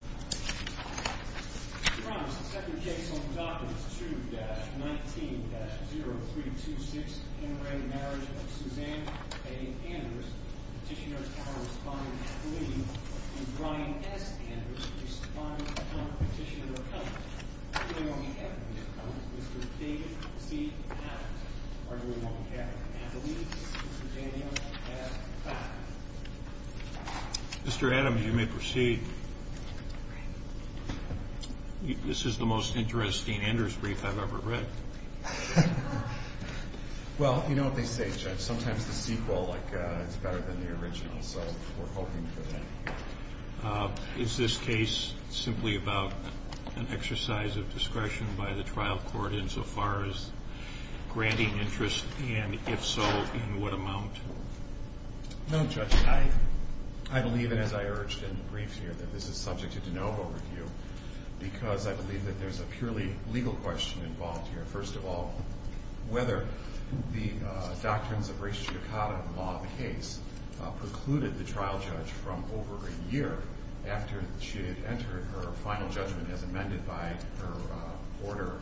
2-19-0326 Enraged Marriage of Suzanne A. Anders Petitioner's Power Respondent, Kathleen, and Brian S. Anders Respondent, Petitioner Accountant, arguing on behalf of the Accountant, Mr. David C. Adams, arguing on behalf of Kathleen, Mr. Daniel S. Packard. Mr. Adams, you may proceed. This is the most interesting Anders brief I've ever read. Well, you know what they say, Judge, sometimes the sequel is better than the original, so we're hoping for that. Is this case simply about an exercise of discretion by the trial court insofar as granting interest, and if so, in what amount? No, Judge, I believe, and as I urged in the brief here, that this is subject to de novo review, because I believe that there's a purely legal question involved here. First of all, whether the doctrines of res judicata, the law of the case, precluded the trial judge from over a year after she had entered her final judgment as amended by her order,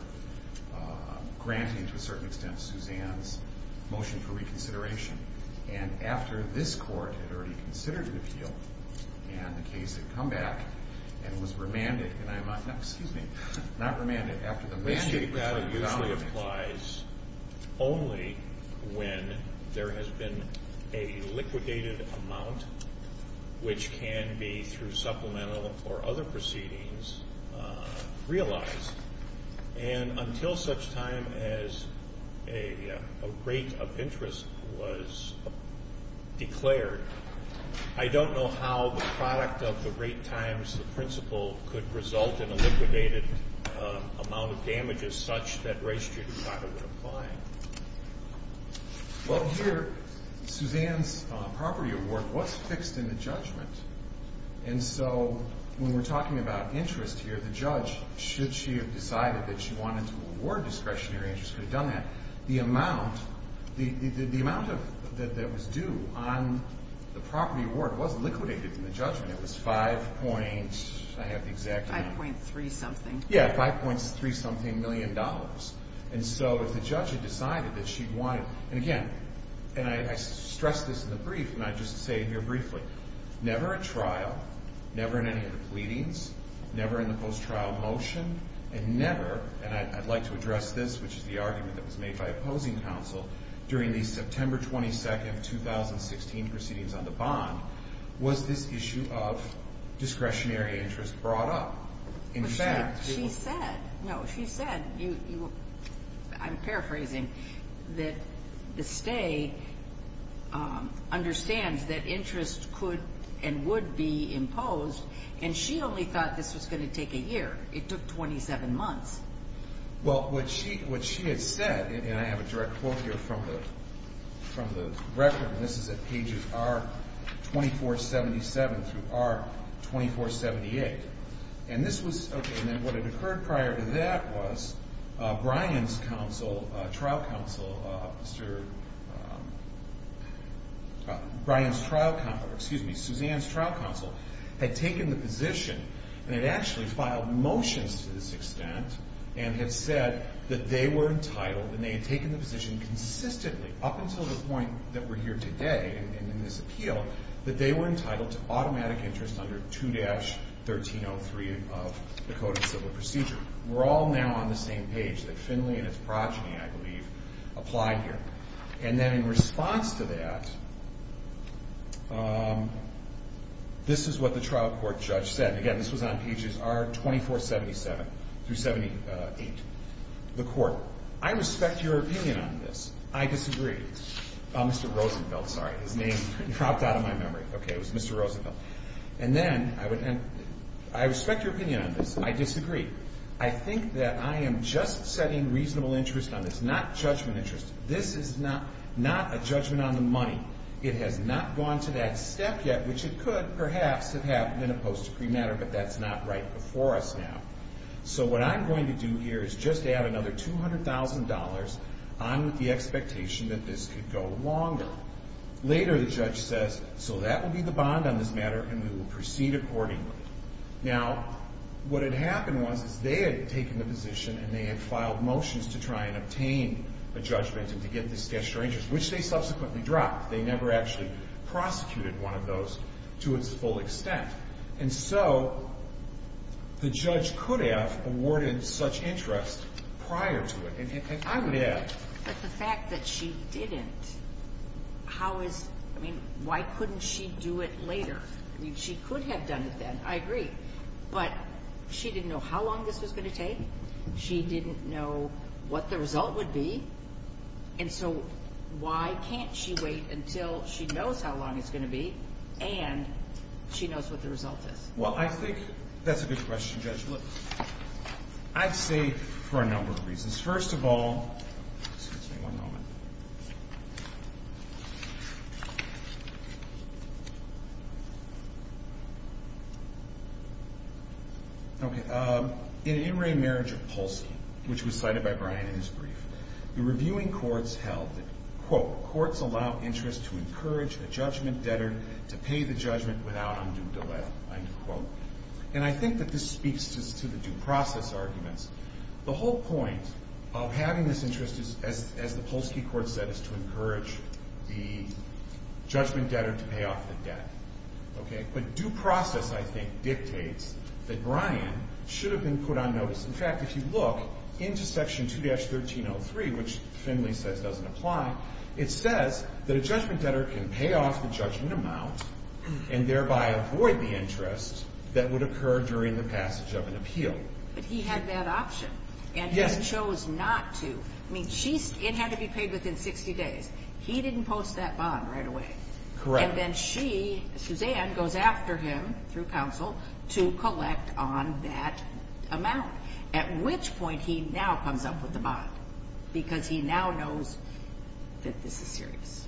granting to a certain extent Suzanne's motion for reconsideration. And after this court had already considered an appeal, and the case had come back, and was remanded, and I'm not, excuse me, not remanded, after the mandate was revalidated. That applies only when there has been a liquidated amount, which can be, through supplemental or other proceedings, realized. And until such time as a rate of interest was declared, I don't know how the product of the rate times the principle could result in a liquidated amount of damages such that res judicata would apply. Well, here, Suzanne's property award was fixed in the judgment, and so when we're talking about interest here, the judge, should she have decided that she wanted to award discretionary interest, could have done that. The amount, the amount that was due on the property award was liquidated in the judgment. It was 5 point, I have the exact number. 5.3 something. Yeah, 5.3 something million dollars. And so if the judge had decided that she wanted, and again, and I stress this in the brief, and I just say it here briefly. Never at trial, never in any of the pleadings, never in the post-trial motion, and never, and I'd like to address this, which is the argument that was made by opposing counsel, during the September 22nd, 2016 proceedings on the bond, was this issue of discretionary interest brought up. She said, no, she said, I'm paraphrasing, that the stay understands that interest could and would be imposed, and she only thought this was going to take a year. It took 27 months. Well, what she had said, and I have a direct quote here from the record, and this is at pages R2477 through R2478. And this was, okay, and then what had occurred prior to that was Brian's counsel, trial counsel, Brian's trial counsel, excuse me, Suzanne's trial counsel, had taken the position, and had actually filed motions to this extent, and had said that they were entitled, and they had taken the position consistently, up until the point that we're here today, and in this appeal, that they were entitled to automatic interest under 2-13. 0-3 of the Code of Civil Procedure. We're all now on the same page, that Finley and his progeny, I believe, applied here. And then in response to that, this is what the trial court judge said. Again, this was on pages R2477 through R2478. The court, I respect your opinion on this. I disagree. Oh, Mr. Rosenfeld, sorry, his name dropped out of my memory. Okay, it was Mr. Rosenfeld. And then, I respect your opinion on this. I disagree. I think that I am just setting reasonable interest on this, not judgment interest. This is not a judgment on the money. It has not gone to that step yet, which it could, perhaps, have happened in a post-decree matter, but that's not right before us now. So what I'm going to do here is just add another $200,000 on with the expectation that this could go longer. Later, the judge says, so that will be the bond on this matter, and we will proceed accordingly. Now, what had happened was is they had taken the position, and they had filed motions to try and obtain a judgment and to get this sketched or interest, which they subsequently dropped. They never actually prosecuted one of those to its full extent. And so the judge could have awarded such interest prior to it. But the fact that she didn't, how is, I mean, why couldn't she do it later? I mean, she could have done it then. I agree. But she didn't know how long this was going to take. She didn't know what the result would be. And so why can't she wait until she knows how long it's going to be and she knows what the result is? Well, I think that's a good question, Judge. I'd say for a number of reasons. First of all, in In Re Marriage of Polsky, which was cited by Brian in his brief, the reviewing courts held that, quote, courts allow interest to encourage a judgment debtor to pay the judgment without undue delay, end quote. And I think that this speaks to the due process arguments. The whole point of having this interest, as the Polsky court said, is to encourage the judgment debtor to pay off the debt. Okay? But due process, I think, dictates that Brian should have been put on notice. In fact, if you look into Section 2-1303, which Finley says doesn't apply, it says that a judgment debtor can pay off the judgment amount and thereby avoid the interest that would occur during the passage of an appeal. But he had that option. Yes. And he chose not to. I mean, it had to be paid within 60 days. He didn't post that bond right away. Correct. And then she, Suzanne, goes after him through counsel to collect on that amount, at which point he now comes up with the bond because he now knows that this is serious.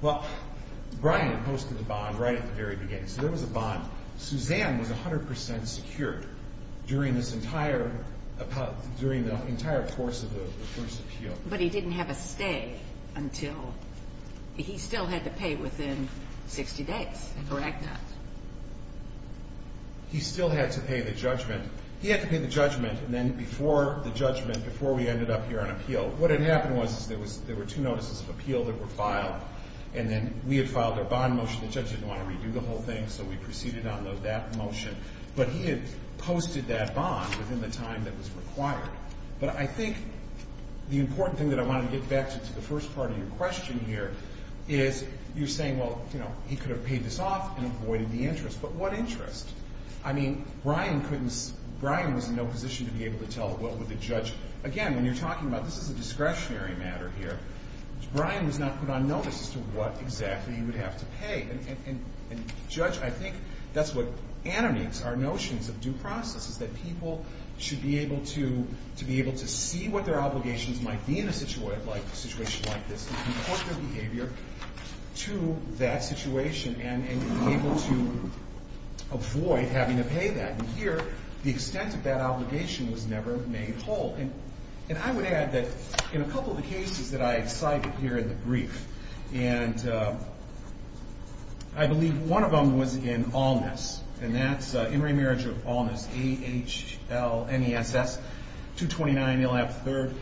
Well, Brian posted the bond right at the very beginning. So there was a bond. Suzanne was 100 percent secure during this entire ‑‑ during the entire course of the first appeal. But he didn't have a stay until ‑‑ he still had to pay within 60 days. Correct that. He still had to pay the judgment. He had to pay the judgment, and then before the judgment, before we ended up here on appeal, what had happened was there were two notices of appeal that were filed, and then we had filed our bond motion. The judge didn't want to redo the whole thing, so we proceeded on that motion. But he had posted that bond within the time that was required. But I think the important thing that I wanted to get back to, to the first part of your question here, is you're saying, well, you know, he could have paid this off and avoided the interest. But what interest? I mean, Brian couldn't ‑‑ Brian was in no position to be able to tell what would the judge ‑‑ again, when you're talking about this is a discretionary matter here, Brian was not put on notice as to what exactly he would have to pay. And, Judge, I think that's what animates our notions of due process, is that people should be able to see what their obligations might be in a situation like this and report their behavior to that situation and be able to avoid having to pay that. And here, the extent of that obligation was never made whole. And I would add that in a couple of the cases that I cited here in the brief, and I believe one of them was in Allness, and that's in remarriage of Allness, A‑H‑L‑N‑E‑S‑S, 229 Nill Ave. 3rd,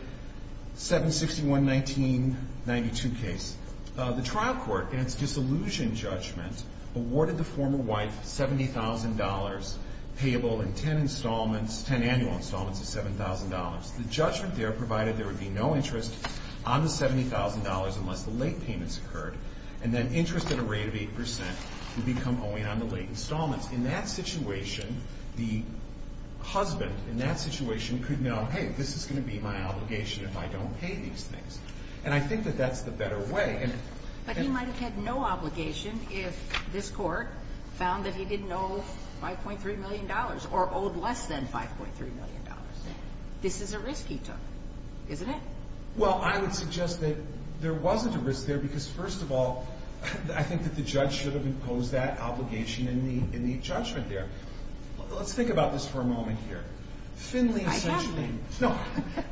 761‑1992 case. The trial court, in its disillusioned judgment, awarded the former wife $70,000 payable in 10 installments, 10 annual installments of $7,000. The judgment there provided there would be no interest on the $70,000 unless the late payments occurred, and then interest at a rate of 8 percent would become owing on the late installments. In that situation, the husband in that situation could know, hey, this is going to be my obligation if I don't pay these things. And I think that that's the better way. But he might have had no obligation if this court found that he didn't owe $5.3 million or owed less than $5.3 million. This is a risk he took, isn't it? Well, I would suggest that there wasn't a risk there because, first of all, I think that the judge should have imposed that obligation in the judgment there. Let's think about this for a moment here. Finley essentially... I have to. No.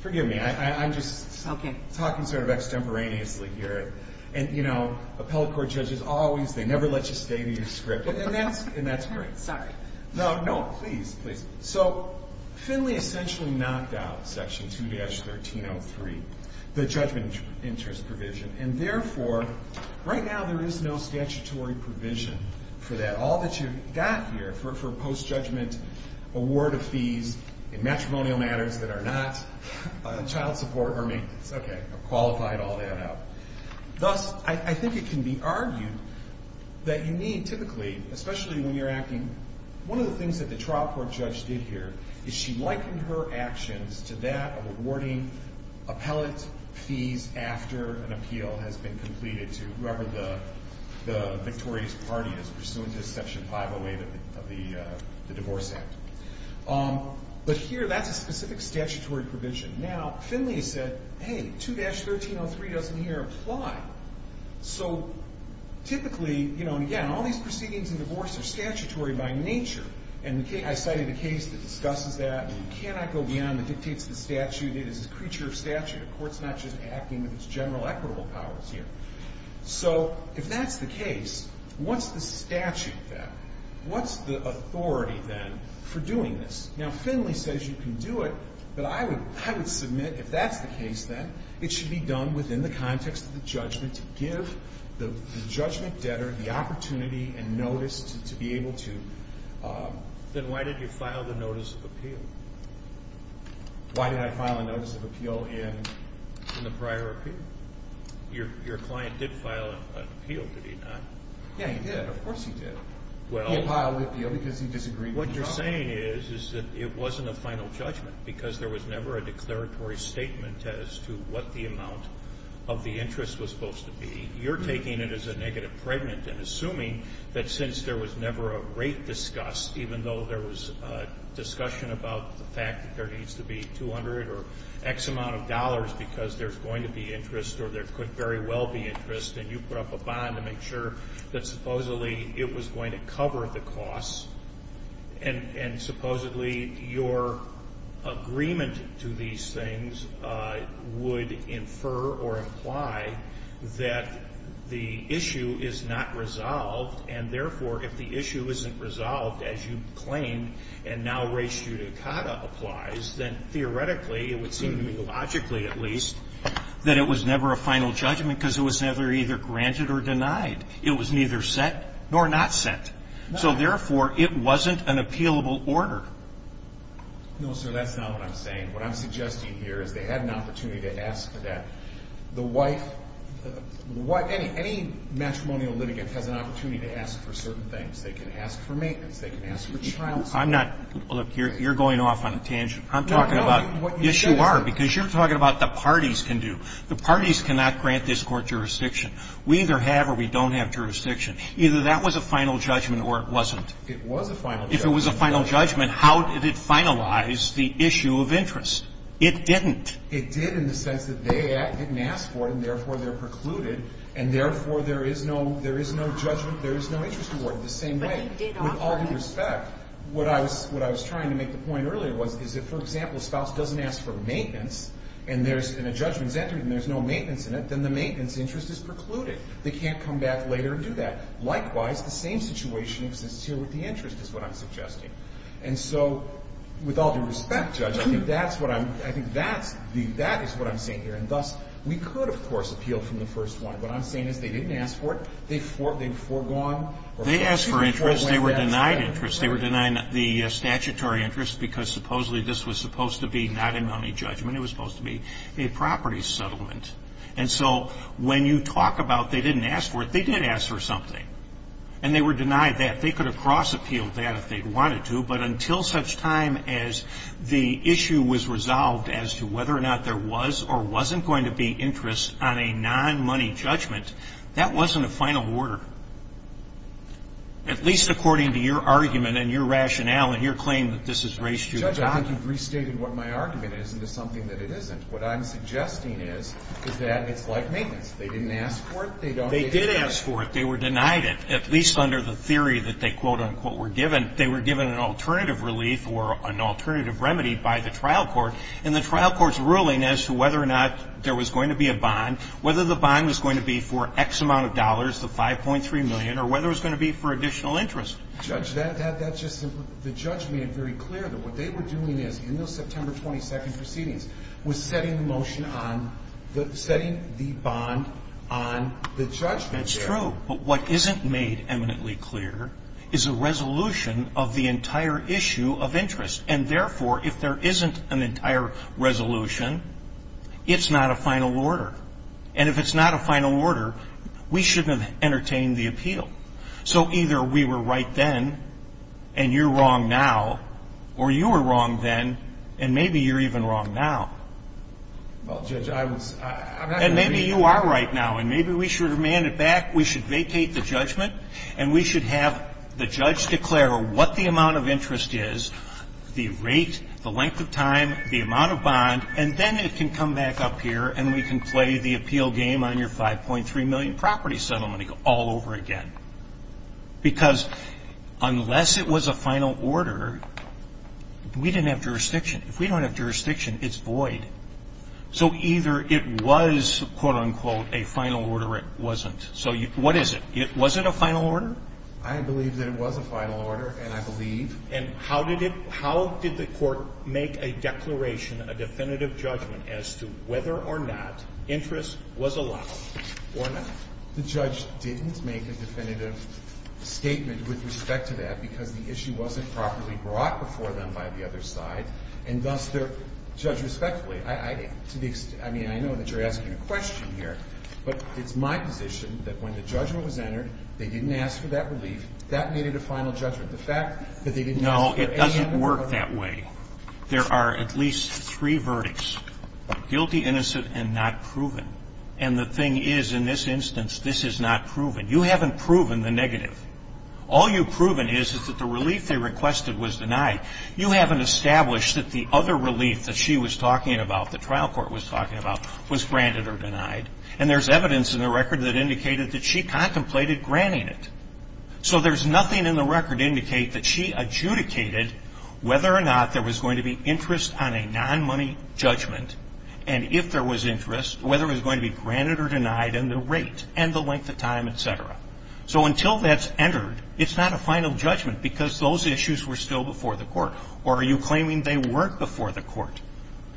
Forgive me. I'm just talking sort of extemporaneously here. And, you know, appellate court judges always, they never let you stay to your script. And that's great. Sorry. No, no. Please, please. So Finley essentially knocked out Section 2‑1303, the judgment interest provision, and, therefore, right now there is no statutory provision for that. All that you've got here for postjudgment award of fees in matrimonial matters that are not child support or maintenance. Okay. I've qualified all that out. Thus, I think it can be argued that you need typically, especially when you're acting... One of the things that the trial court judge did here is she likened her actions to that of awarding appellate fees after an appeal has been completed to whoever the victorious party is pursuant to Section 508 of the Divorce Act. But here that's a specific statutory provision. Now, Finley said, hey, 2‑1303 doesn't here apply. So typically, you know, and again, all these proceedings in divorce are statutory by nature. And I cited a case that discusses that. You cannot go beyond the dictates of the statute. It is a creature of statute. A court's not just acting with its general equitable powers here. So if that's the case, what's the statute then? What's the authority then for doing this? Now, Finley says you can do it, but I would submit if that's the case then, it should be done within the context of the judgment to give the judgment debtor the opportunity and notice to be able to ‑‑ Then why did you file the notice of appeal? Why did I file a notice of appeal in the prior appeal? Your client did file an appeal, did he not? Yeah, he did. Of course he did. He filed the appeal because he disagreed with the judgment. What you're saying is that it wasn't a final judgment because there was never a declaratory statement as to what the amount of the interest was supposed to be. You're taking it as a negative pregnant and assuming that since there was never a rate discussed, even though there was discussion about the fact that there needs to be 200 or X amount of dollars because there's going to be interest or there could very well be interest and you put up a bond to make sure that supposedly it was going to cover the costs and supposedly your agreement to these things would infer or imply that the issue is not resolved and therefore if the issue isn't resolved as you claim and now ratio to CADA applies, then theoretically it would seem, logically at least, that it was never a final judgment because it was never either granted or denied. It was neither set nor not set. So therefore it wasn't an appealable order. No, sir, that's not what I'm saying. What I'm suggesting here is they had an opportunity to ask for that. Any matrimonial litigant has an opportunity to ask for certain things. They can ask for maintenance. They can ask for child support. Look, you're going off on a tangent. Yes, you are because you're talking about the parties can do. The parties cannot grant this court jurisdiction. We either have or we don't have jurisdiction. Either that was a final judgment or it wasn't. It was a final judgment. If it was a final judgment, how did it finalize the issue of interest? It didn't. It did in the sense that they didn't ask for it and, therefore, they're precluded, and, therefore, there is no judgment, there is no interest awarded the same way. But he did offer it. With all due respect, what I was trying to make the point earlier was is that, for example, a spouse doesn't ask for maintenance and a judgment's entered and there's no maintenance in it, then the maintenance interest is precluded. They can't come back later and do that. Likewise, the same situation exists here with the interest is what I'm suggesting. And so, with all due respect, Judge, I think that's what I'm saying here. And, thus, we could, of course, appeal from the first one. What I'm saying is they didn't ask for it. They foregone. They asked for interest. They were denied interest. They were denying the statutory interest because, supposedly, this was supposed to be not a money judgment. It was supposed to be a property settlement. And so when you talk about they didn't ask for it, they did ask for something, and they were denied that. They could have cross-appealed that if they wanted to, but until such time as the issue was resolved as to whether or not there was or wasn't going to be interest on a non-money judgment, that wasn't a final order, at least according to your argument and your rationale and your claim that this is race to the job. Judge, I think you've restated what my argument is into something that it isn't. What I'm suggesting is is that it's like maintenance. They didn't ask for it. They don't need it. They did ask for it. They were denied it, at least under the theory that they quote-unquote were given. They were given an alternative relief or an alternative remedy by the trial court, and the trial court's ruling as to whether or not there was going to be a bond, whether the bond was going to be for X amount of dollars, the $5.3 million, or whether it was going to be for additional interest. Judge, that's just simple. The judge made it very clear that what they were doing is, in those September 22 proceedings, was setting the motion on the – setting the bond on the judgment there. That's true. But what isn't made eminently clear is a resolution of the entire issue of interest. And, therefore, if there isn't an entire resolution, it's not a final order. And if it's not a final order, we shouldn't have entertained the appeal. So either we were right then and you're wrong now, or you were wrong then, and maybe you're even wrong now. Well, Judge, I was – I'm not going to be – And we should have the judge declare what the amount of interest is, the rate, the length of time, the amount of bond, and then it can come back up here and we can play the appeal game on your $5.3 million property settlement all over again. Because unless it was a final order, we didn't have jurisdiction. If we don't have jurisdiction, it's void. So either it was, quote, unquote, a final order or it wasn't. So what is it? Was it a final order? I believe that it was a final order, and I believe. And how did it – how did the court make a declaration, a definitive judgment as to whether or not interest was allowed or not? The judge didn't make a definitive statement with respect to that because the issue wasn't properly brought before them by the other side, and thus they're – Judge, respectfully, to be – I mean, I know that you're asking a question here, but it's my position that when the judgment was entered, they didn't ask for that relief. That needed a final judgment. The fact that they didn't ask for any other verdict. No, it doesn't work that way. There are at least three verdicts, guilty, innocent, and not proven. And the thing is, in this instance, this is not proven. You haven't proven the negative. All you've proven is that the relief they requested was denied. You haven't established that the other relief that she was talking about, the trial court was talking about, was granted or denied. And there's evidence in the record that indicated that she contemplated granting it. So there's nothing in the record to indicate that she adjudicated whether or not there was going to be interest on a non-money judgment, and if there was interest, whether it was going to be granted or denied, and the rate and the length of time, et cetera. So until that's entered, it's not a final judgment because those issues were still before the court. Or are you claiming they weren't before the court?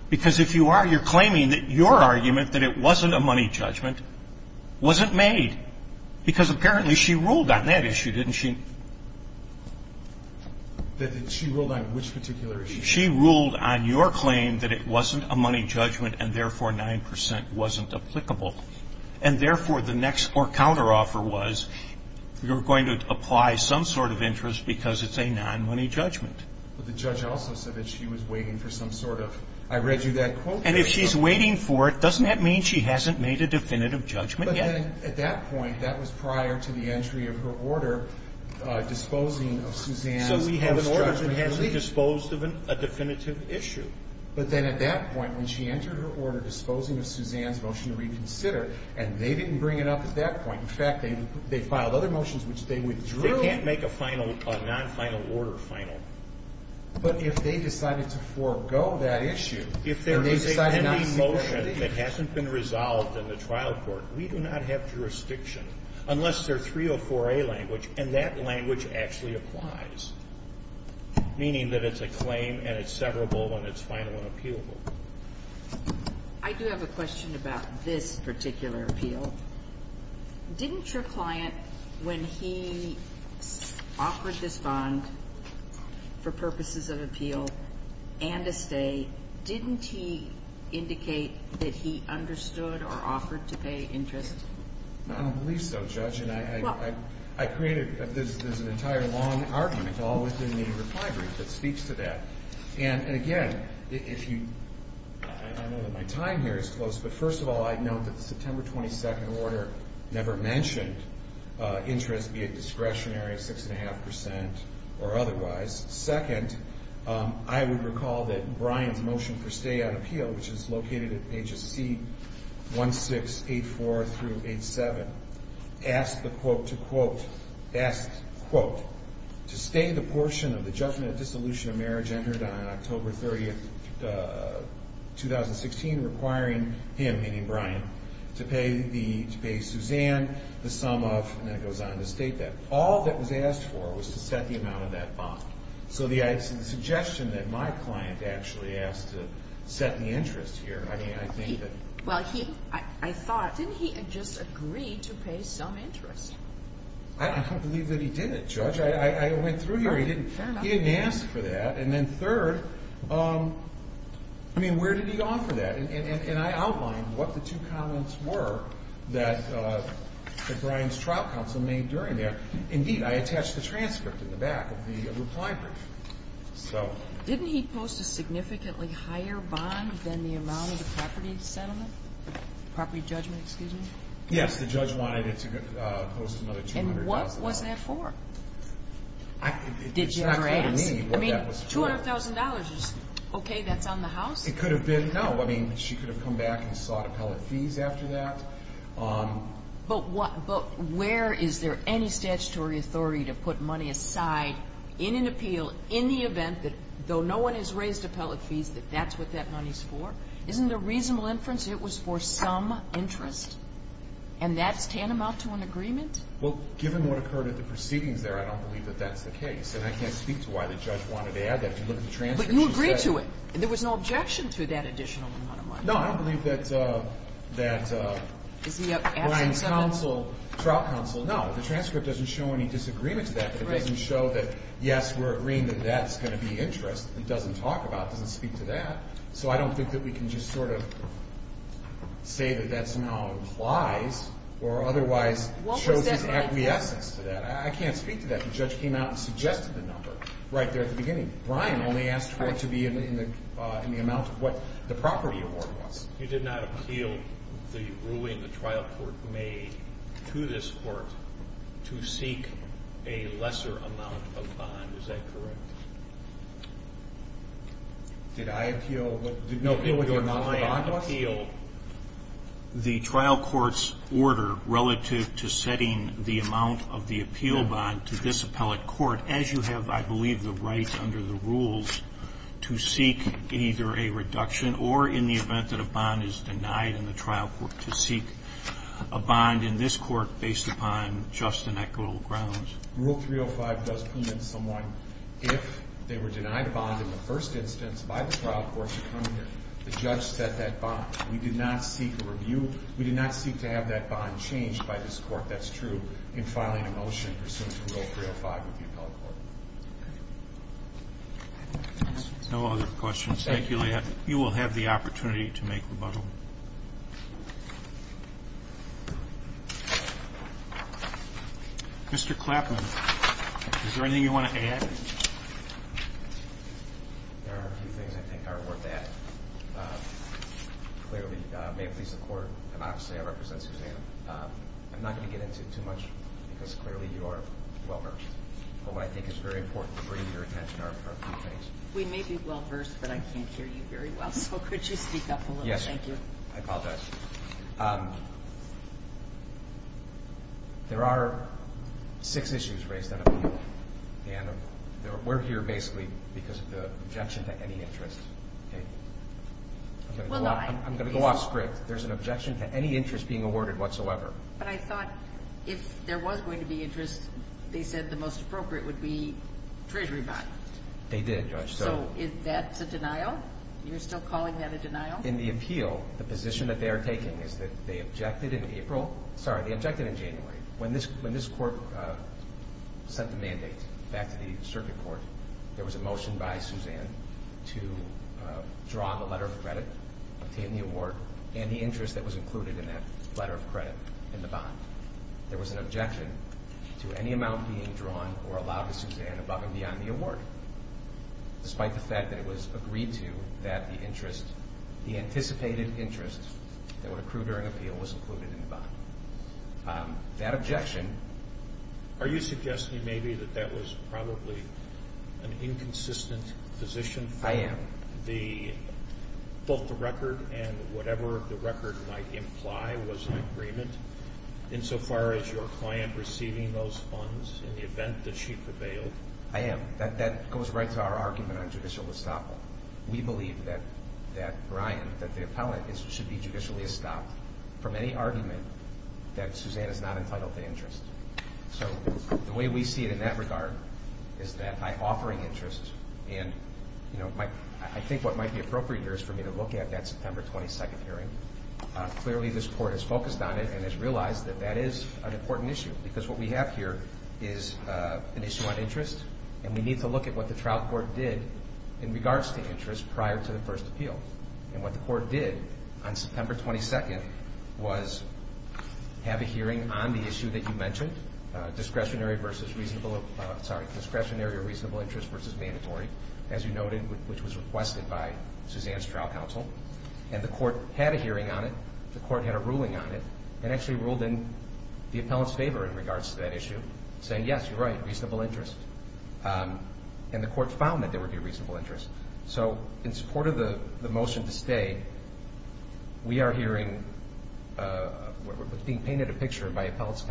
Because if you are, you're claiming that your argument, that it wasn't a money judgment, wasn't made because apparently she ruled on that issue, didn't she? She ruled on which particular issue? She ruled on your claim that it wasn't a money judgment and, therefore, 9% wasn't applicable. And, therefore, the next or counteroffer was you're going to apply some sort of interest because it's a non-money judgment. But the judge also said that she was waiting for some sort of, I read you that quote. And if she's waiting for it, doesn't that mean she hasn't made a definitive judgment yet? But then at that point, that was prior to the entry of her order disposing of Suzanne's post-judgment relief. So we have an order that hasn't disposed of a definitive issue. But then at that point, when she entered her order disposing of Suzanne's motion to reconsider, and they didn't bring it up at that point. In fact, they filed other motions which they withdrew. They can't make a final, a non-final order final. But if they decided to forego that issue. If there was a pending motion that hasn't been resolved in the trial court, we do not have jurisdiction unless they're 304A language, and that language actually applies, meaning that it's a claim and it's severable when it's final and appealable. I do have a question about this particular appeal. Didn't your client, when he offered this bond for purposes of appeal and a stay, didn't he indicate that he understood or offered to pay interest? I don't believe so, Judge. And I created, there's an entire long argument all within the reply brief that speaks to that. And again, if you, I know that my time here is close, but first of all, I'd note that the September 22nd order never mentioned interest, be it discretionary, six and a half percent or otherwise. Second, I would recall that Brian's motion for stay on appeal, which is located at pages C1684 through 87, asked the quote to quote, asked quote, to stay the portion of the judgment of dissolution of marriage entered on October 30th, 2016, requiring him, meaning Brian, to pay Suzanne the sum of, and it goes on to state that. All that was asked for was to set the amount of that bond. So the suggestion that my client actually asked to set the interest here, I mean, I think that. Well, he, I thought, didn't he just agree to pay some interest? I don't believe that he did it, Judge. I went through here. He didn't ask for that. And then third, I mean, where did he offer that? And I outlined what the two comments were that Brian's trial counsel made during there. Indeed, I attached the transcript in the back of the reply brief. So. Didn't he post a significantly higher bond than the amount of the property settlement, property judgment, excuse me? Yes, the judge wanted it to post another $200,000. And what was that for? It's not clear to me what that was for. $200,000 is okay? That's on the house? It could have been, no. I mean, she could have come back and sought appellate fees after that. But where is there any statutory authority to put money aside in an appeal in the event that, though no one has raised appellate fees, that that's what that money is for? Isn't the reasonable inference it was for some interest? And that's tantamount to an agreement? Well, given what occurred at the proceedings there, I don't believe that that's the case. And I can't speak to why the judge wanted to add that. If you look at the transcript, she said. But you agree to it. There was no objection to that additional amount of money. No, I don't believe that Brian's counsel, Trout counsel, no. The transcript doesn't show any disagreement to that. It doesn't show that, yes, we're agreeing that that's going to be interest. It doesn't talk about it. It doesn't speak to that. So I don't think that we can just sort of say that that somehow implies or otherwise shows its acquiescence to that. I can't speak to that. The judge came out and suggested the number right there at the beginning. Brian only asked for it to be in the amount of what the property award was. You did not appeal the ruling the trial court made to this court to seek a lesser amount of bond. Is that correct? Did I appeal what the amount of bond was? Did Brian appeal the trial court's order relative to setting the amount of the appeal bond to this appellate court as you have, I believe, the right under the rules to seek either a reduction or in the event that a bond is denied in the trial court to seek a bond in this court based upon just and equitable grounds? Rule 305 does permit someone, if they were denied a bond in the first instance by the trial court to come here. The judge set that bond. We did not seek a review. We did not seek to have that bond changed by this court. That's true in filing a motion pursuant to Rule 305 of the appellate court. No other questions. Thank you, Leigh Ann. You will have the opportunity to make rebuttal. Mr. Clapman, is there anything you want to add? There are a few things I think are worth adding. Clearly, may it please the Court, and obviously I represent Suzanne, I'm not going to get into too much because clearly you are well-versed. But what I think is very important to bring to your attention are a few things. We may be well-versed, but I can't hear you very well. So could you speak up a little? Yes. Thank you. I apologize. There are six issues raised on appeal. And we're here basically because of the objection to any interest. I'm going to go off script. There's an objection to any interest being awarded whatsoever. But I thought if there was going to be interest, they said the most appropriate would be treasury bond. They did, Judge. So is that a denial? You're still calling that a denial? In the appeal, the position that they are taking is that they objected in April. Sorry, they objected in January. When this court sent the mandate back to the circuit court, there was a motion by Suzanne to draw the letter of credit, obtain the award, and the interest that was included in that letter of credit in the bond. There was an objection to any amount being drawn or allowed to Suzanne above and beyond the award, despite the fact that it was agreed to that the anticipated interest That objection. Are you suggesting maybe that that was probably an inconsistent position? I am. Both the record and whatever the record might imply was in agreement, insofar as your client receiving those funds in the event that she prevailed? I am. That goes right to our argument on judicial estoppel. We believe that Brian, that the appellant, should be judicially estopped from any argument that Suzanne is not entitled to interest. So the way we see it in that regard is that by offering interest, and I think what might be appropriate here is for me to look at that September 22nd hearing. Clearly, this court has focused on it and has realized that that is an important issue because what we have here is an issue on interest, and we need to look at what the trial court did in regards to interest prior to the first appeal. And what the court did on September 22nd was have a hearing on the issue that you mentioned, discretionary or reasonable interest versus mandatory, as you noted, which was requested by Suzanne's trial counsel. And the court had a hearing on it, the court had a ruling on it, and actually ruled in the appellant's favor in regards to that issue, saying, yes, you're right, reasonable interest. And the court found that there would be a reasonable interest. So in support of the motion to stay, we are hearing what's being painted a picture by appellant's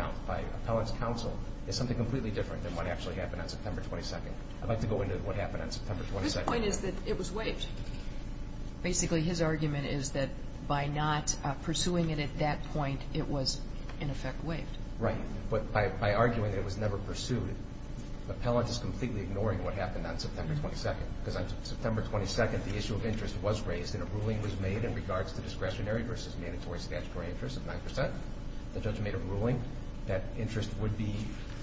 counsel as something completely different than what actually happened on September 22nd. I'd like to go into what happened on September 22nd. His point is that it was waived. Basically, his argument is that by not pursuing it at that point, it was, in effect, waived. Right. But by arguing that it was never pursued, the appellant is completely ignoring what happened on September 22nd. Because on September 22nd, the issue of interest was raised and a ruling was made in regards to discretionary versus mandatory statutory interest of 9 percent. The judge made a ruling that interest would be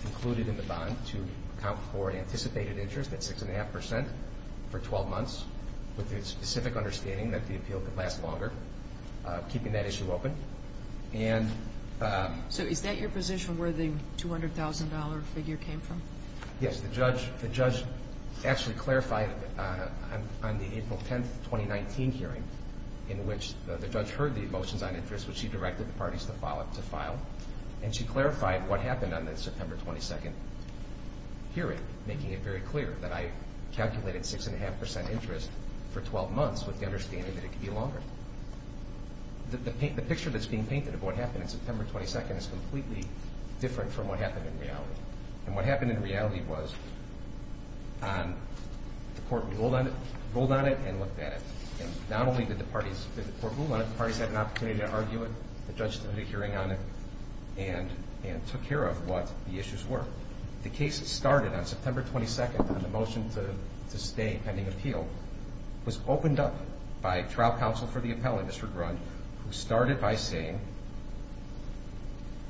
included in the bond to account for anticipated interest at 6.5 percent for 12 months, with the specific understanding that the appeal could last longer, keeping that issue open. So is that your position, where the $200,000 figure came from? Yes. The judge actually clarified on the April 10th, 2019 hearing, in which the judge heard the motions on interest, which she directed the parties to file. And she clarified what happened on the September 22nd hearing, making it very clear that I calculated 6.5 percent interest for 12 months, with the understanding that it could be longer. The picture that's being painted of what happened on September 22nd is completely different from what happened in reality. And what happened in reality was the court ruled on it and looked at it. And not only did the court rule on it, the parties had an opportunity to argue it. The judge did a hearing on it and took care of what the issues were. The case started on September 22nd on the motion to stay pending appeal. It was opened up by trial counsel for the appellate, Mr. Grund, who started by saying,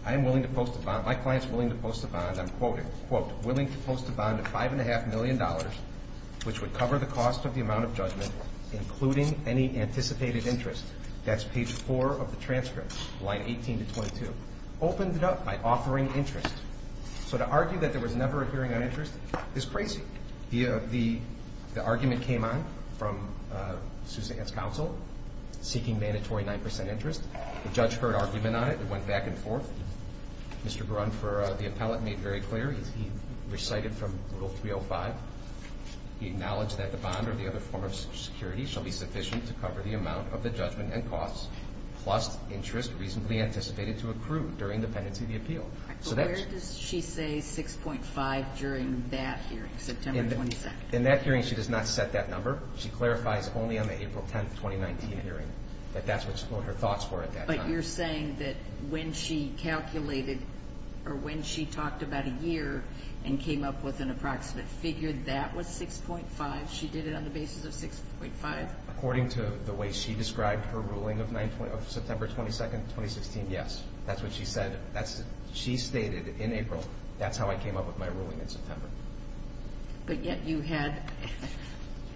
I am willing to post a bond, my client is willing to post a bond, I'm quoting, quote, willing to post a bond of $5.5 million, which would cover the cost of the amount of judgment, including any anticipated interest. That's page 4 of the transcript, line 18 to 22. Opened it up by offering interest. So to argue that there was never a hearing on interest is crazy. The argument came on from Susanette's counsel, seeking mandatory 9% interest. The judge heard argument on it. It went back and forth. Mr. Grund, for the appellate, made very clear. He recited from Rule 305. He acknowledged that the bond or the other form of security shall be sufficient to cover the amount of the judgment and costs, plus interest reasonably anticipated to accrue during the pendency of the appeal. Where does she say 6.5 during that hearing, September 22nd? In that hearing, she does not set that number. She clarifies only on the April 10th, 2019 hearing, that that's what her thoughts were at that time. But you're saying that when she calculated or when she talked about a year and came up with an approximate figure, that was 6.5? She did it on the basis of 6.5? According to the way she described her ruling of September 22nd, 2016, yes. That's what she said. She stated in April, that's how I came up with my ruling in September. But yet you had,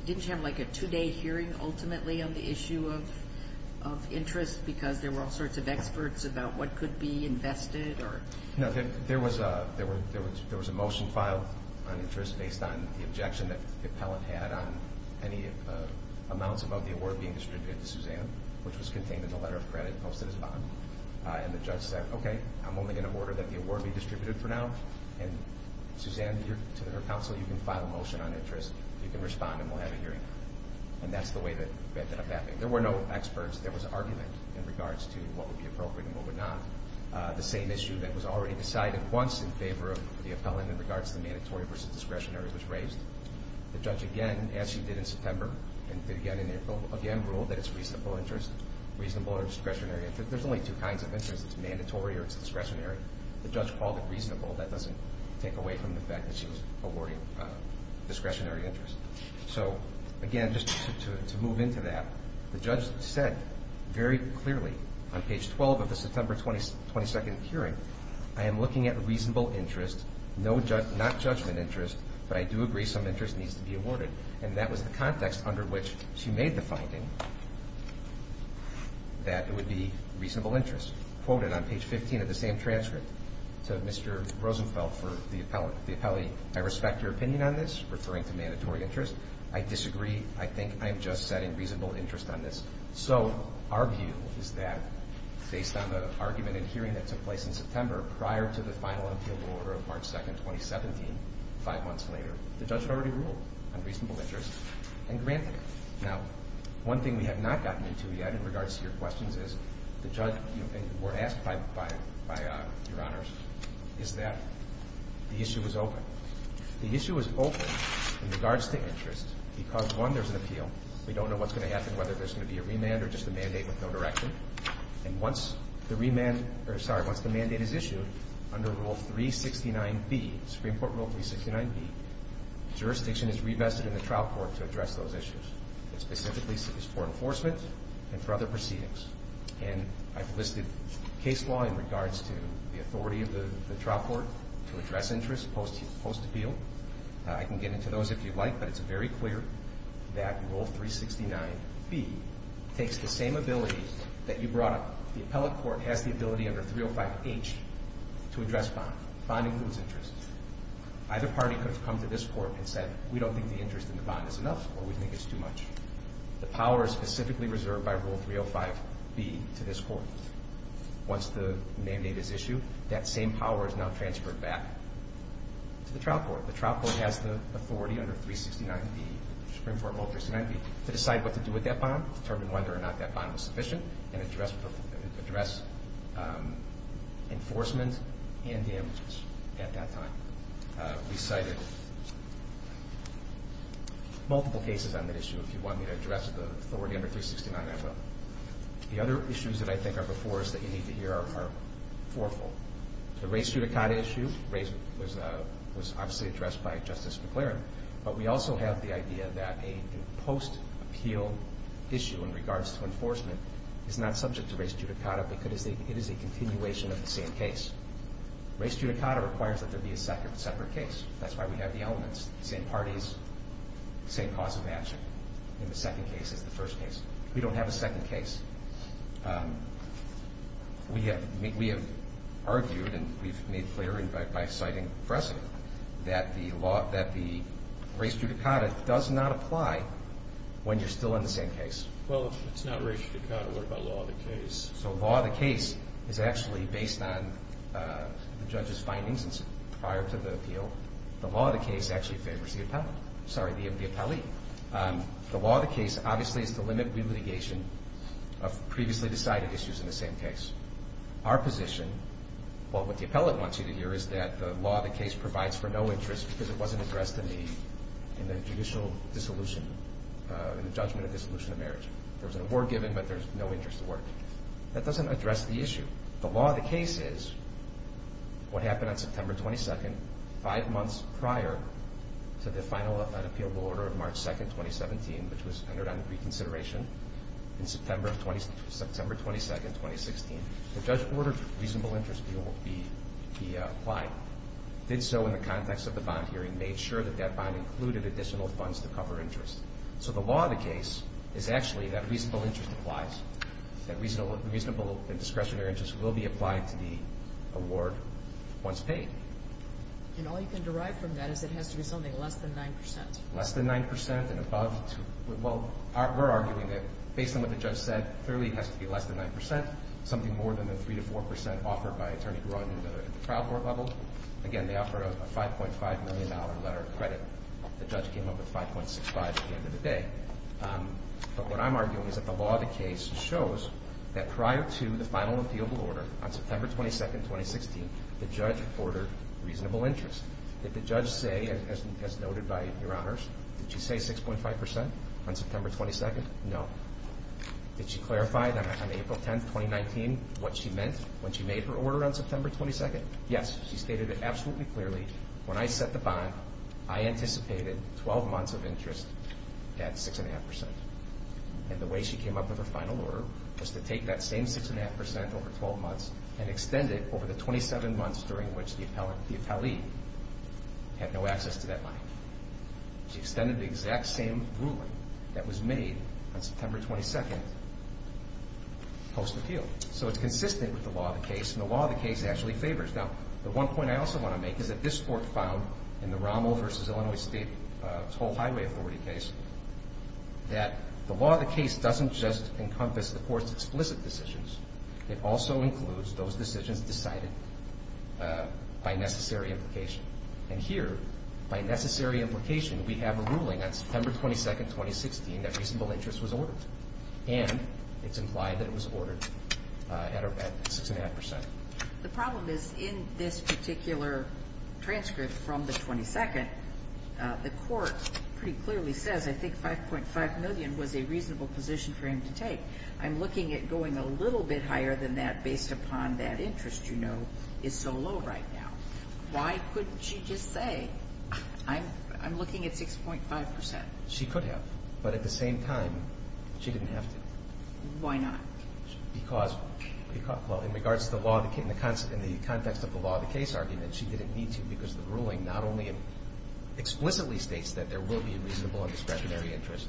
didn't you have like a two-day hearing, ultimately, on the issue of interest because there were all sorts of experts about what could be invested? No, there was a motion filed on interest based on the objection that the appellate had on any amounts about the award being distributed to Suzanne, which was contained in the letter of credit posted as a bond. And the judge said, okay, I'm only going to order that the award be distributed for now, and Suzanne, to her counsel, you can file a motion on interest. You can respond, and we'll have a hearing. And that's the way that it ended up happening. There were no experts. There was an argument in regards to what would be appropriate and what would not. The same issue that was already decided once in favor of the appellant in regards to the mandatory versus discretionary was raised. The judge, again, as she did in September and did again in April, again ruled that it's reasonable interest, reasonable or discretionary interest. There's only two kinds of interest. It's mandatory or it's discretionary. The judge called it reasonable. That doesn't take away from the fact that she was awarding discretionary interest. So, again, just to move into that, the judge said very clearly on page 12 of the September 22nd hearing, I am looking at reasonable interest, not judgment interest, but I do agree some interest needs to be awarded. And that was the context under which she made the finding that it would be reasonable interest. Quoted on page 15 of the same transcript to Mr. Rosenfeld for the appellant. The appellee, I respect your opinion on this, referring to mandatory interest. I disagree. I think I am just setting reasonable interest on this. So our view is that based on the argument and hearing that took place in September prior to the final appeal order of March 2nd, 2017, five months later, the judge had already ruled on reasonable interest and granted it. Now, one thing we have not gotten into yet in regards to your questions is the judge, and were asked by Your Honors, is that the issue is open. The issue is open in regards to interest because, one, there's an appeal. We don't know what's going to happen, whether there's going to be a remand or just a mandate with no direction. And once the remand or, sorry, once the mandate is issued under Rule 369B, Supreme Court Rule 369B, jurisdiction is reinvested in the trial court to address those issues. It specifically is for enforcement and for other proceedings. And I've listed case law in regards to the authority of the trial court to address interest post-appeal. I can get into those if you'd like, but it's very clear that Rule 369B takes the same ability that you brought up. The appellate court has the ability under 305H to address bond. Bond includes interest. Either party could have come to this court and said, we don't think the interest in the bond is enough, or we think it's too much. The power is specifically reserved by Rule 305B to this court. Once the mandate is issued, that same power is now transferred back to the trial court. The trial court has the authority under 369B, Supreme Court Rule 369B, to decide what to do with that bond, determine whether or not that bond was sufficient, and address enforcement and damages at that time. We cited multiple cases on that issue. If you want me to address the authority under 369, I will. The other issues that I think are before us that you need to hear are fourfold. The race judicata issue was obviously addressed by Justice McClaren, but we also have the idea that a post-appeal issue in regards to enforcement is not subject to race judicata because it is a continuation of the same case. Race judicata requires that there be a separate case. That's why we have the elements, same parties, same cause of action. In the second case, it's the first case. We don't have a second case. We have argued and we've made clear by citing Fresco that the race judicata does not apply when you're still in the same case. Well, if it's not race judicata, what about law of the case? So law of the case is actually based on the judge's findings prior to the appeal. The law of the case actually favors the appellee. The law of the case obviously is to limit re-litigation of previously decided issues in the same case. Our position, what the appellate wants you to hear, is that the law of the case provides for no interest because it wasn't addressed in the judicial dissolution, in the judgment of dissolution of marriage. There was an award given, but there's no interest award. That doesn't address the issue. The law of the case is what happened on September 22nd, five months prior to the final unappealable order of March 2nd, 2017, which was entered on reconsideration in September 22nd, 2016. The judge ordered reasonable interest be applied. Did so in the context of the bond hearing. Made sure that that bond included additional funds to cover interest. So the law of the case is actually that reasonable interest applies. That reasonable and discretionary interest will be applied to the award once paid. And all you can derive from that is it has to be something less than 9%. Less than 9% and above. Well, we're arguing that based on what the judge said, clearly it has to be less than 9%, something more than the 3% to 4% offered by Attorney Gruden in the trial court level. Again, they offer a $5.5 million letter of credit. The judge came up with 5.65 at the end of the day. But what I'm arguing is that the law of the case shows that prior to the final appealable order on September 22nd, 2016, the judge ordered reasonable interest. Did the judge say, as noted by Your Honors, did she say 6.5% on September 22nd? No. Did she clarify that on April 10th, 2019, what she meant when she made her order on September 22nd? Yes, she stated it absolutely clearly. When I set the bond, I anticipated 12 months of interest at 6.5%. And the way she came up with her final order was to take that same 6.5% over 12 months and extend it over the 27 months during which the appellee had no access to that money. She extended the exact same ruling that was made on September 22nd post-appeal. So it's consistent with the law of the case, and the law of the case actually favors. Now, the one point I also want to make is that this Court found in the Rommel v. Illinois State Toll Highway Authority case that the law of the case doesn't just encompass the Court's explicit decisions. It also includes those decisions decided by necessary implication. And here, by necessary implication, we have a ruling on September 22nd, 2016 that reasonable interest was ordered. And it's implied that it was ordered at 6.5%. The problem is, in this particular transcript from the 22nd, the Court pretty clearly says I think 5.5 million was a reasonable position for him to take. I'm looking at going a little bit higher than that based upon that interest you know is so low right now. Why couldn't she just say I'm looking at 6.5%? She could have. But at the same time, she didn't have to. Why not? Because in regards to the law of the case, in the context of the law of the case argument, she didn't need to because the ruling not only explicitly states that there will be a reasonable and discretionary interest.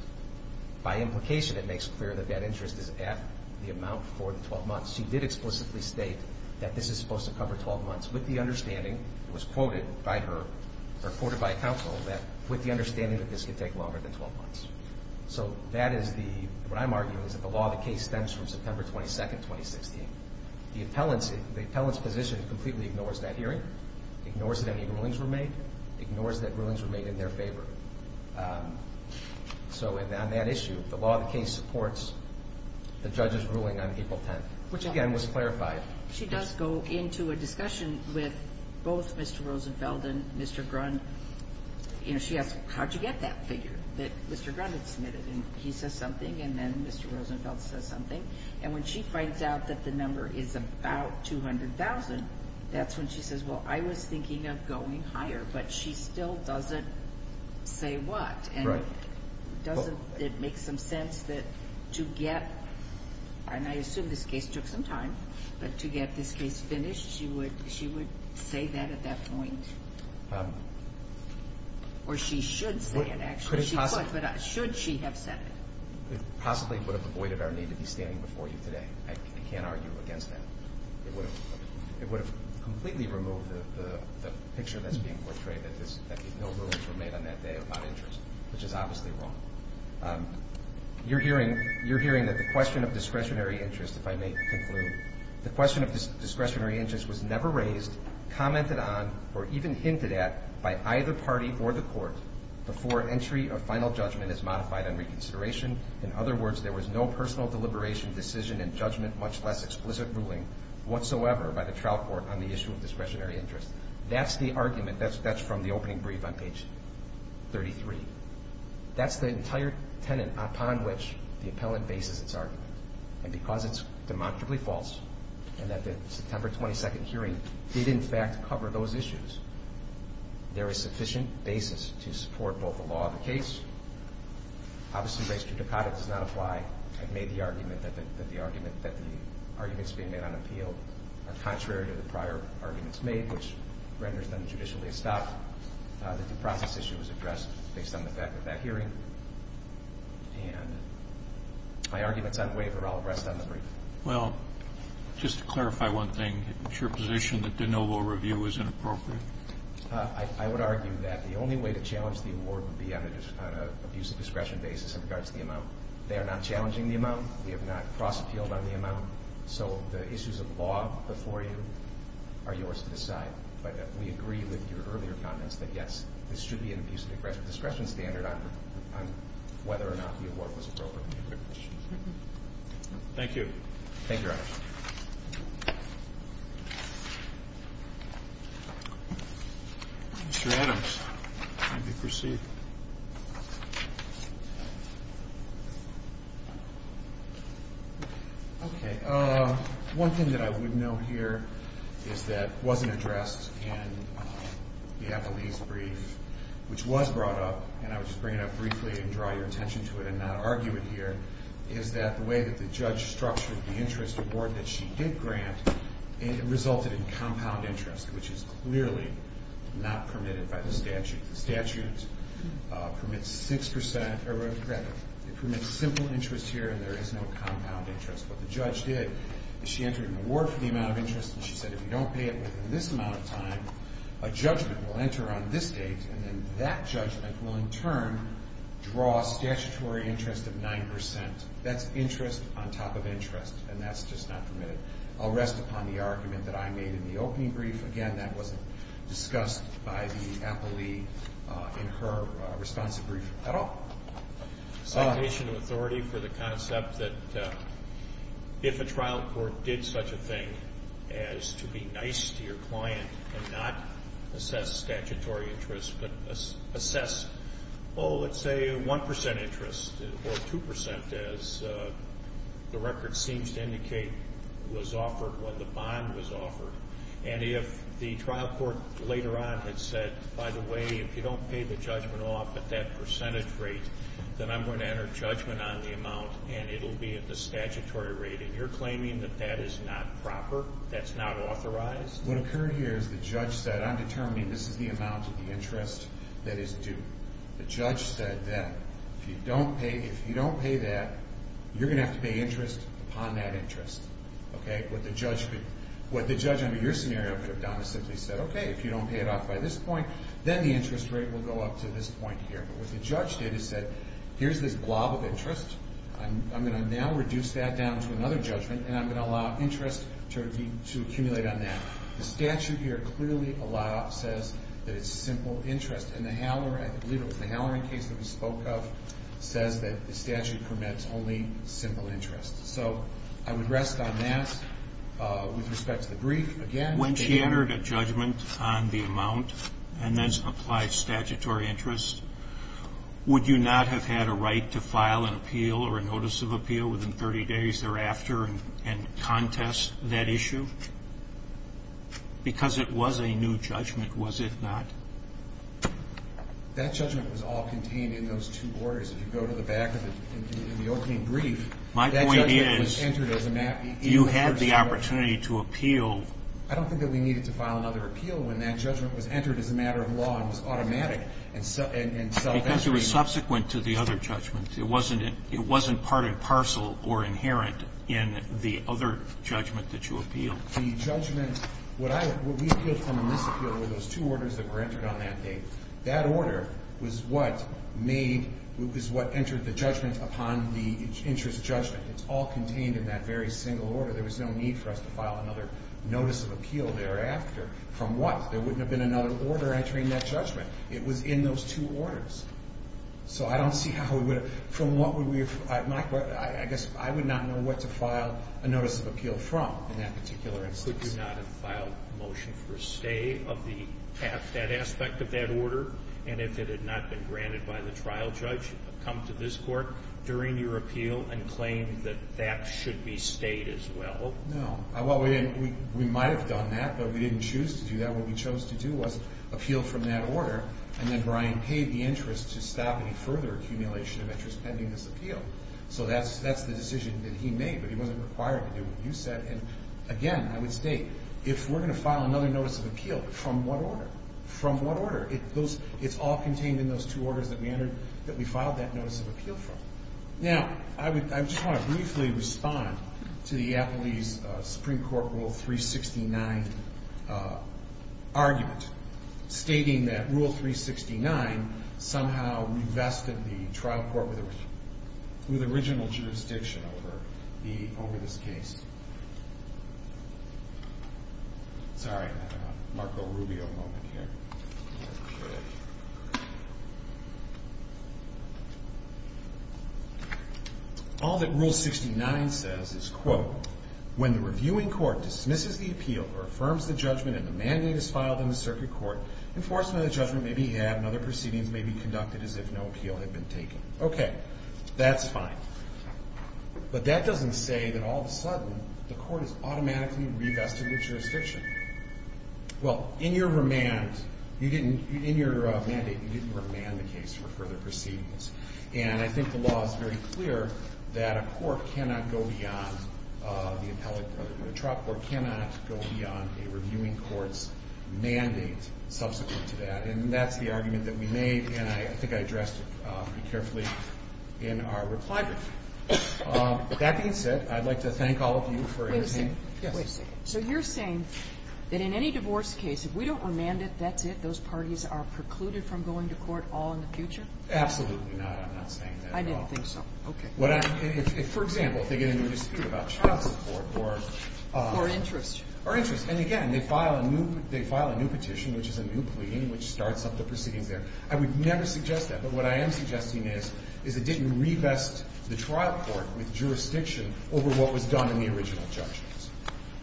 By implication, it makes clear that that interest is at the amount for the 12 months. She did explicitly state that this is supposed to cover 12 months with the understanding, it was quoted by her, or quoted by counsel, that with the understanding that this could take longer than 12 months. So that is the, what I'm arguing is that the law of the case stems from September 22nd, 2016. The appellant's position completely ignores that hearing, ignores that any rulings were made, ignores that rulings were made in their favor. So on that issue, the law of the case supports the judge's ruling on April 10th, which again was clarified. She does go into a discussion with both Mr. Rosenfeld and Mr. Grunn. You know, she asks, how'd you get that figure that Mr. Grunn had submitted? And he says something, and then Mr. Rosenfeld says something. And when she finds out that the number is about 200,000, that's when she says, well, I was thinking of going higher. But she still doesn't say what. And doesn't it make some sense that to get, and I assume this case took some time, but to get this case finished, she would say that at that point? Or she should say it, actually. Should she have said it? It possibly would have avoided our need to be standing before you today. I can't argue against that. It would have completely removed the picture that's being portrayed, that no rulings were made on that day about interest, which is obviously wrong. You're hearing that the question of discretionary interest, if I may conclude, the question of discretionary interest was never raised, commented on, or even hinted at by either party or the court before entry or final judgment is modified on reconsideration. In other words, there was no personal deliberation, decision, and judgment, much less explicit ruling whatsoever by the trial court on the issue of discretionary interest. That's the argument. That's from the opening brief on page 33. That's the entire tenet upon which the appellant bases its argument. And because it's demonstrably false, and that the September 22nd hearing did, in fact, cover those issues, there is sufficient basis to support both the law of the case. Obviously, res judicata does not apply. I've made the argument that the arguments being made on appeal are contrary to the prior arguments made, which renders them judicially a stop, that the process issue was addressed based on the fact of that hearing. And my arguments unwaver. I'll rest on the brief. Well, just to clarify one thing, is your position that de novo review is inappropriate? I would argue that the only way to challenge the award would be on an abuse of discretion basis in regards to the amount. They are not challenging the amount. We have not cross-appealed on the amount. So the issues of law before you are yours to decide. But we agree with your earlier comments that, yes, this should be an abuse of discretion standard on whether or not the award was appropriate. Thank you. Thank you, Your Honor. Mr. Adams, you may proceed. Okay. One thing that I would note here is that it wasn't addressed in the Appellee's Brief, which was brought up, and I would just bring it up briefly and draw your attention to it and not argue it here, is that the way that the judge structured the interest award that she did grant, it resulted in compound interest, which is clearly not permitted by the statute. The statute permits simple interest here, and there is no compound interest. What the judge did is she entered an award for the amount of interest, and she said if you don't pay it within this amount of time, a judgment will enter on this date, and then that judgment will in turn draw a statutory interest of 9%. That's interest on top of interest, and that's just not permitted. I'll rest upon the argument that I made in the opening brief. Again, that wasn't discussed by the Appellee in her responsive brief at all. Citation of authority for the concept that if a trial court did such a thing as to be nice to your client and not assess statutory interest but assess, oh, let's say 1% interest or 2%, as the record seems to indicate was offered when the bond was offered, and if the trial court later on had said, by the way, if you don't pay the judgment off at that percentage rate, then I'm going to enter judgment on the amount, and it will be at the statutory rate, and you're claiming that that is not proper, that's not authorized? What occurred here is the judge said, I'm determining this is the amount of the interest that is due. The judge said that if you don't pay that, you're going to have to pay interest upon that interest. What the judge under your scenario could have done is simply said, okay, if you don't pay it off by this point, then the interest rate will go up to this point here. But what the judge did is said, here's this blob of interest. I'm going to now reduce that down to another judgment, and I'm going to allow interest to accumulate on that. The statute here clearly says that it's simple interest, and the Halloran case that we spoke of says that the statute permits only simple interest. So I would rest on that with respect to the brief. When she entered a judgment on the amount and then applied statutory interest, would you not have had a right to file an appeal or a notice of appeal within 30 days thereafter and contest that issue? Because it was a new judgment, was it not? That judgment was all contained in those two orders. If you go to the back of the opening brief, that judgment was entered as a map. My point is you had the opportunity to appeal. I don't think that we needed to file another appeal when that judgment was entered as a matter of law and was automatic and self-evident. Because it was subsequent to the other judgments. It wasn't part and parcel or inherent in the other judgment that you appealed. The judgment we appealed from in this appeal were those two orders that were entered on that date. That order was what entered the judgment upon the interest judgment. It's all contained in that very single order. There was no need for us to file another notice of appeal thereafter. From what? There wouldn't have been another order entering that judgment. It was in those two orders. So I don't see how we would have ---- I guess I would not know what to file a notice of appeal from in that particular instance. Could you not have filed a motion for a stay of that aspect of that order? And if it had not been granted by the trial judge, come to this court during your appeal and claim that that should be stayed as well? No. Well, we might have done that, but we didn't choose to do that. What we chose to do was appeal from that order. And then Brian paid the interest to stop any further accumulation of interest pending this appeal. So that's the decision that he made. But he wasn't required to do what you said. And, again, I would state, if we're going to file another notice of appeal, from what order? From what order? It's all contained in those two orders that we filed that notice of appeal from. Now, I just want to briefly respond to the Appellee's Supreme Court Rule 369 argument, stating that Rule 369 somehow revested the trial court with original jurisdiction over this case. Sorry, Marco Rubio moment here. All that Rule 69 says is, quote, When the reviewing court dismisses the appeal or affirms the judgment and the mandate is filed in the circuit court, enforcement of the judgment may be had and other proceedings may be conducted as if no appeal had been taken. Okay. That's fine. But that doesn't say that all of a sudden the court is automatically revested with jurisdiction. Well, in your remand, in your mandate, you didn't remand the case for further proceedings. And I think the law is very clear that a court cannot go beyond, the appellate trial court cannot go beyond a reviewing court's mandate subsequent to that. And that's the argument that we made, and I think I addressed it pretty carefully in our reply brief. That being said, I'd like to thank all of you for your time. Wait a second. So you're saying that in any divorce case, if we don't remand it, that's it? Those parties are precluded from going to court all in the future? Absolutely not. I'm not saying that at all. I didn't think so. Okay. For example, if they get into a dispute about child support or interest. Or interest. And again, they file a new petition, which is a new plea, which starts up the proceedings there. I would never suggest that. But what I am suggesting is, is it didn't revest the trial court with jurisdiction over what was done in the original judgments.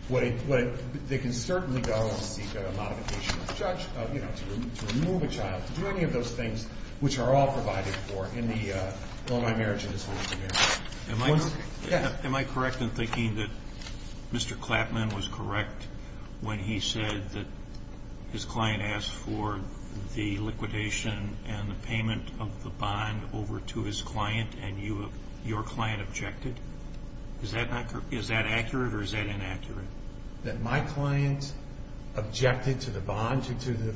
They can certainly go and seek a modification of the judge, you know, to remove a child, to do any of those things which are all provided for in the Illinois Marriage and Disability Act. Am I correct in thinking that Mr. Clapman was correct when he said that his client asked for the liquidation and the payment of the bond over to his client, and your client objected? Is that accurate or is that inaccurate? That my client objected to the bond?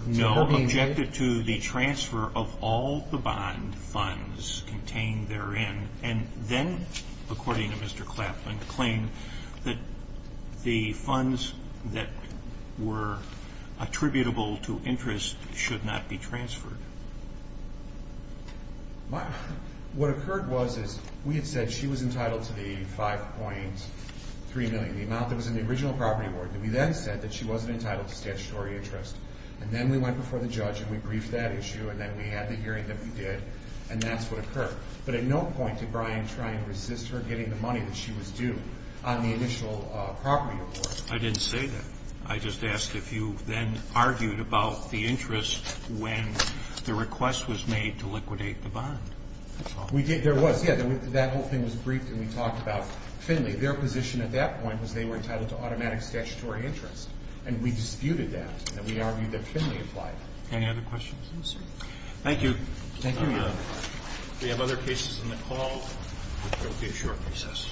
No, objected to the transfer of all the bond funds contained therein. And then, according to Mr. Clapman, claimed that the funds that were attributable to interest should not be transferred. What occurred was is we had said she was entitled to the $5.3 million, the amount that was in the original property award. And we then said that she wasn't entitled to statutory interest. And then we went before the judge and we briefed that issue, and then we had the hearing that we did, and that's what occurred. But at no point did Brian try and resist her getting the money that she was due on the initial property award. I didn't say that. I just asked if you then argued about the interest when the request was made to liquidate the bond. We did. There was, yeah. That whole thing was briefed and we talked about Finley. Their position at that point was they were entitled to automatic statutory interest, and we disputed that. And we argued that Finley applied. Any other questions? No, sir. Thank you. Thank you, Your Honor. If we have other cases in the call, there will be a short recess.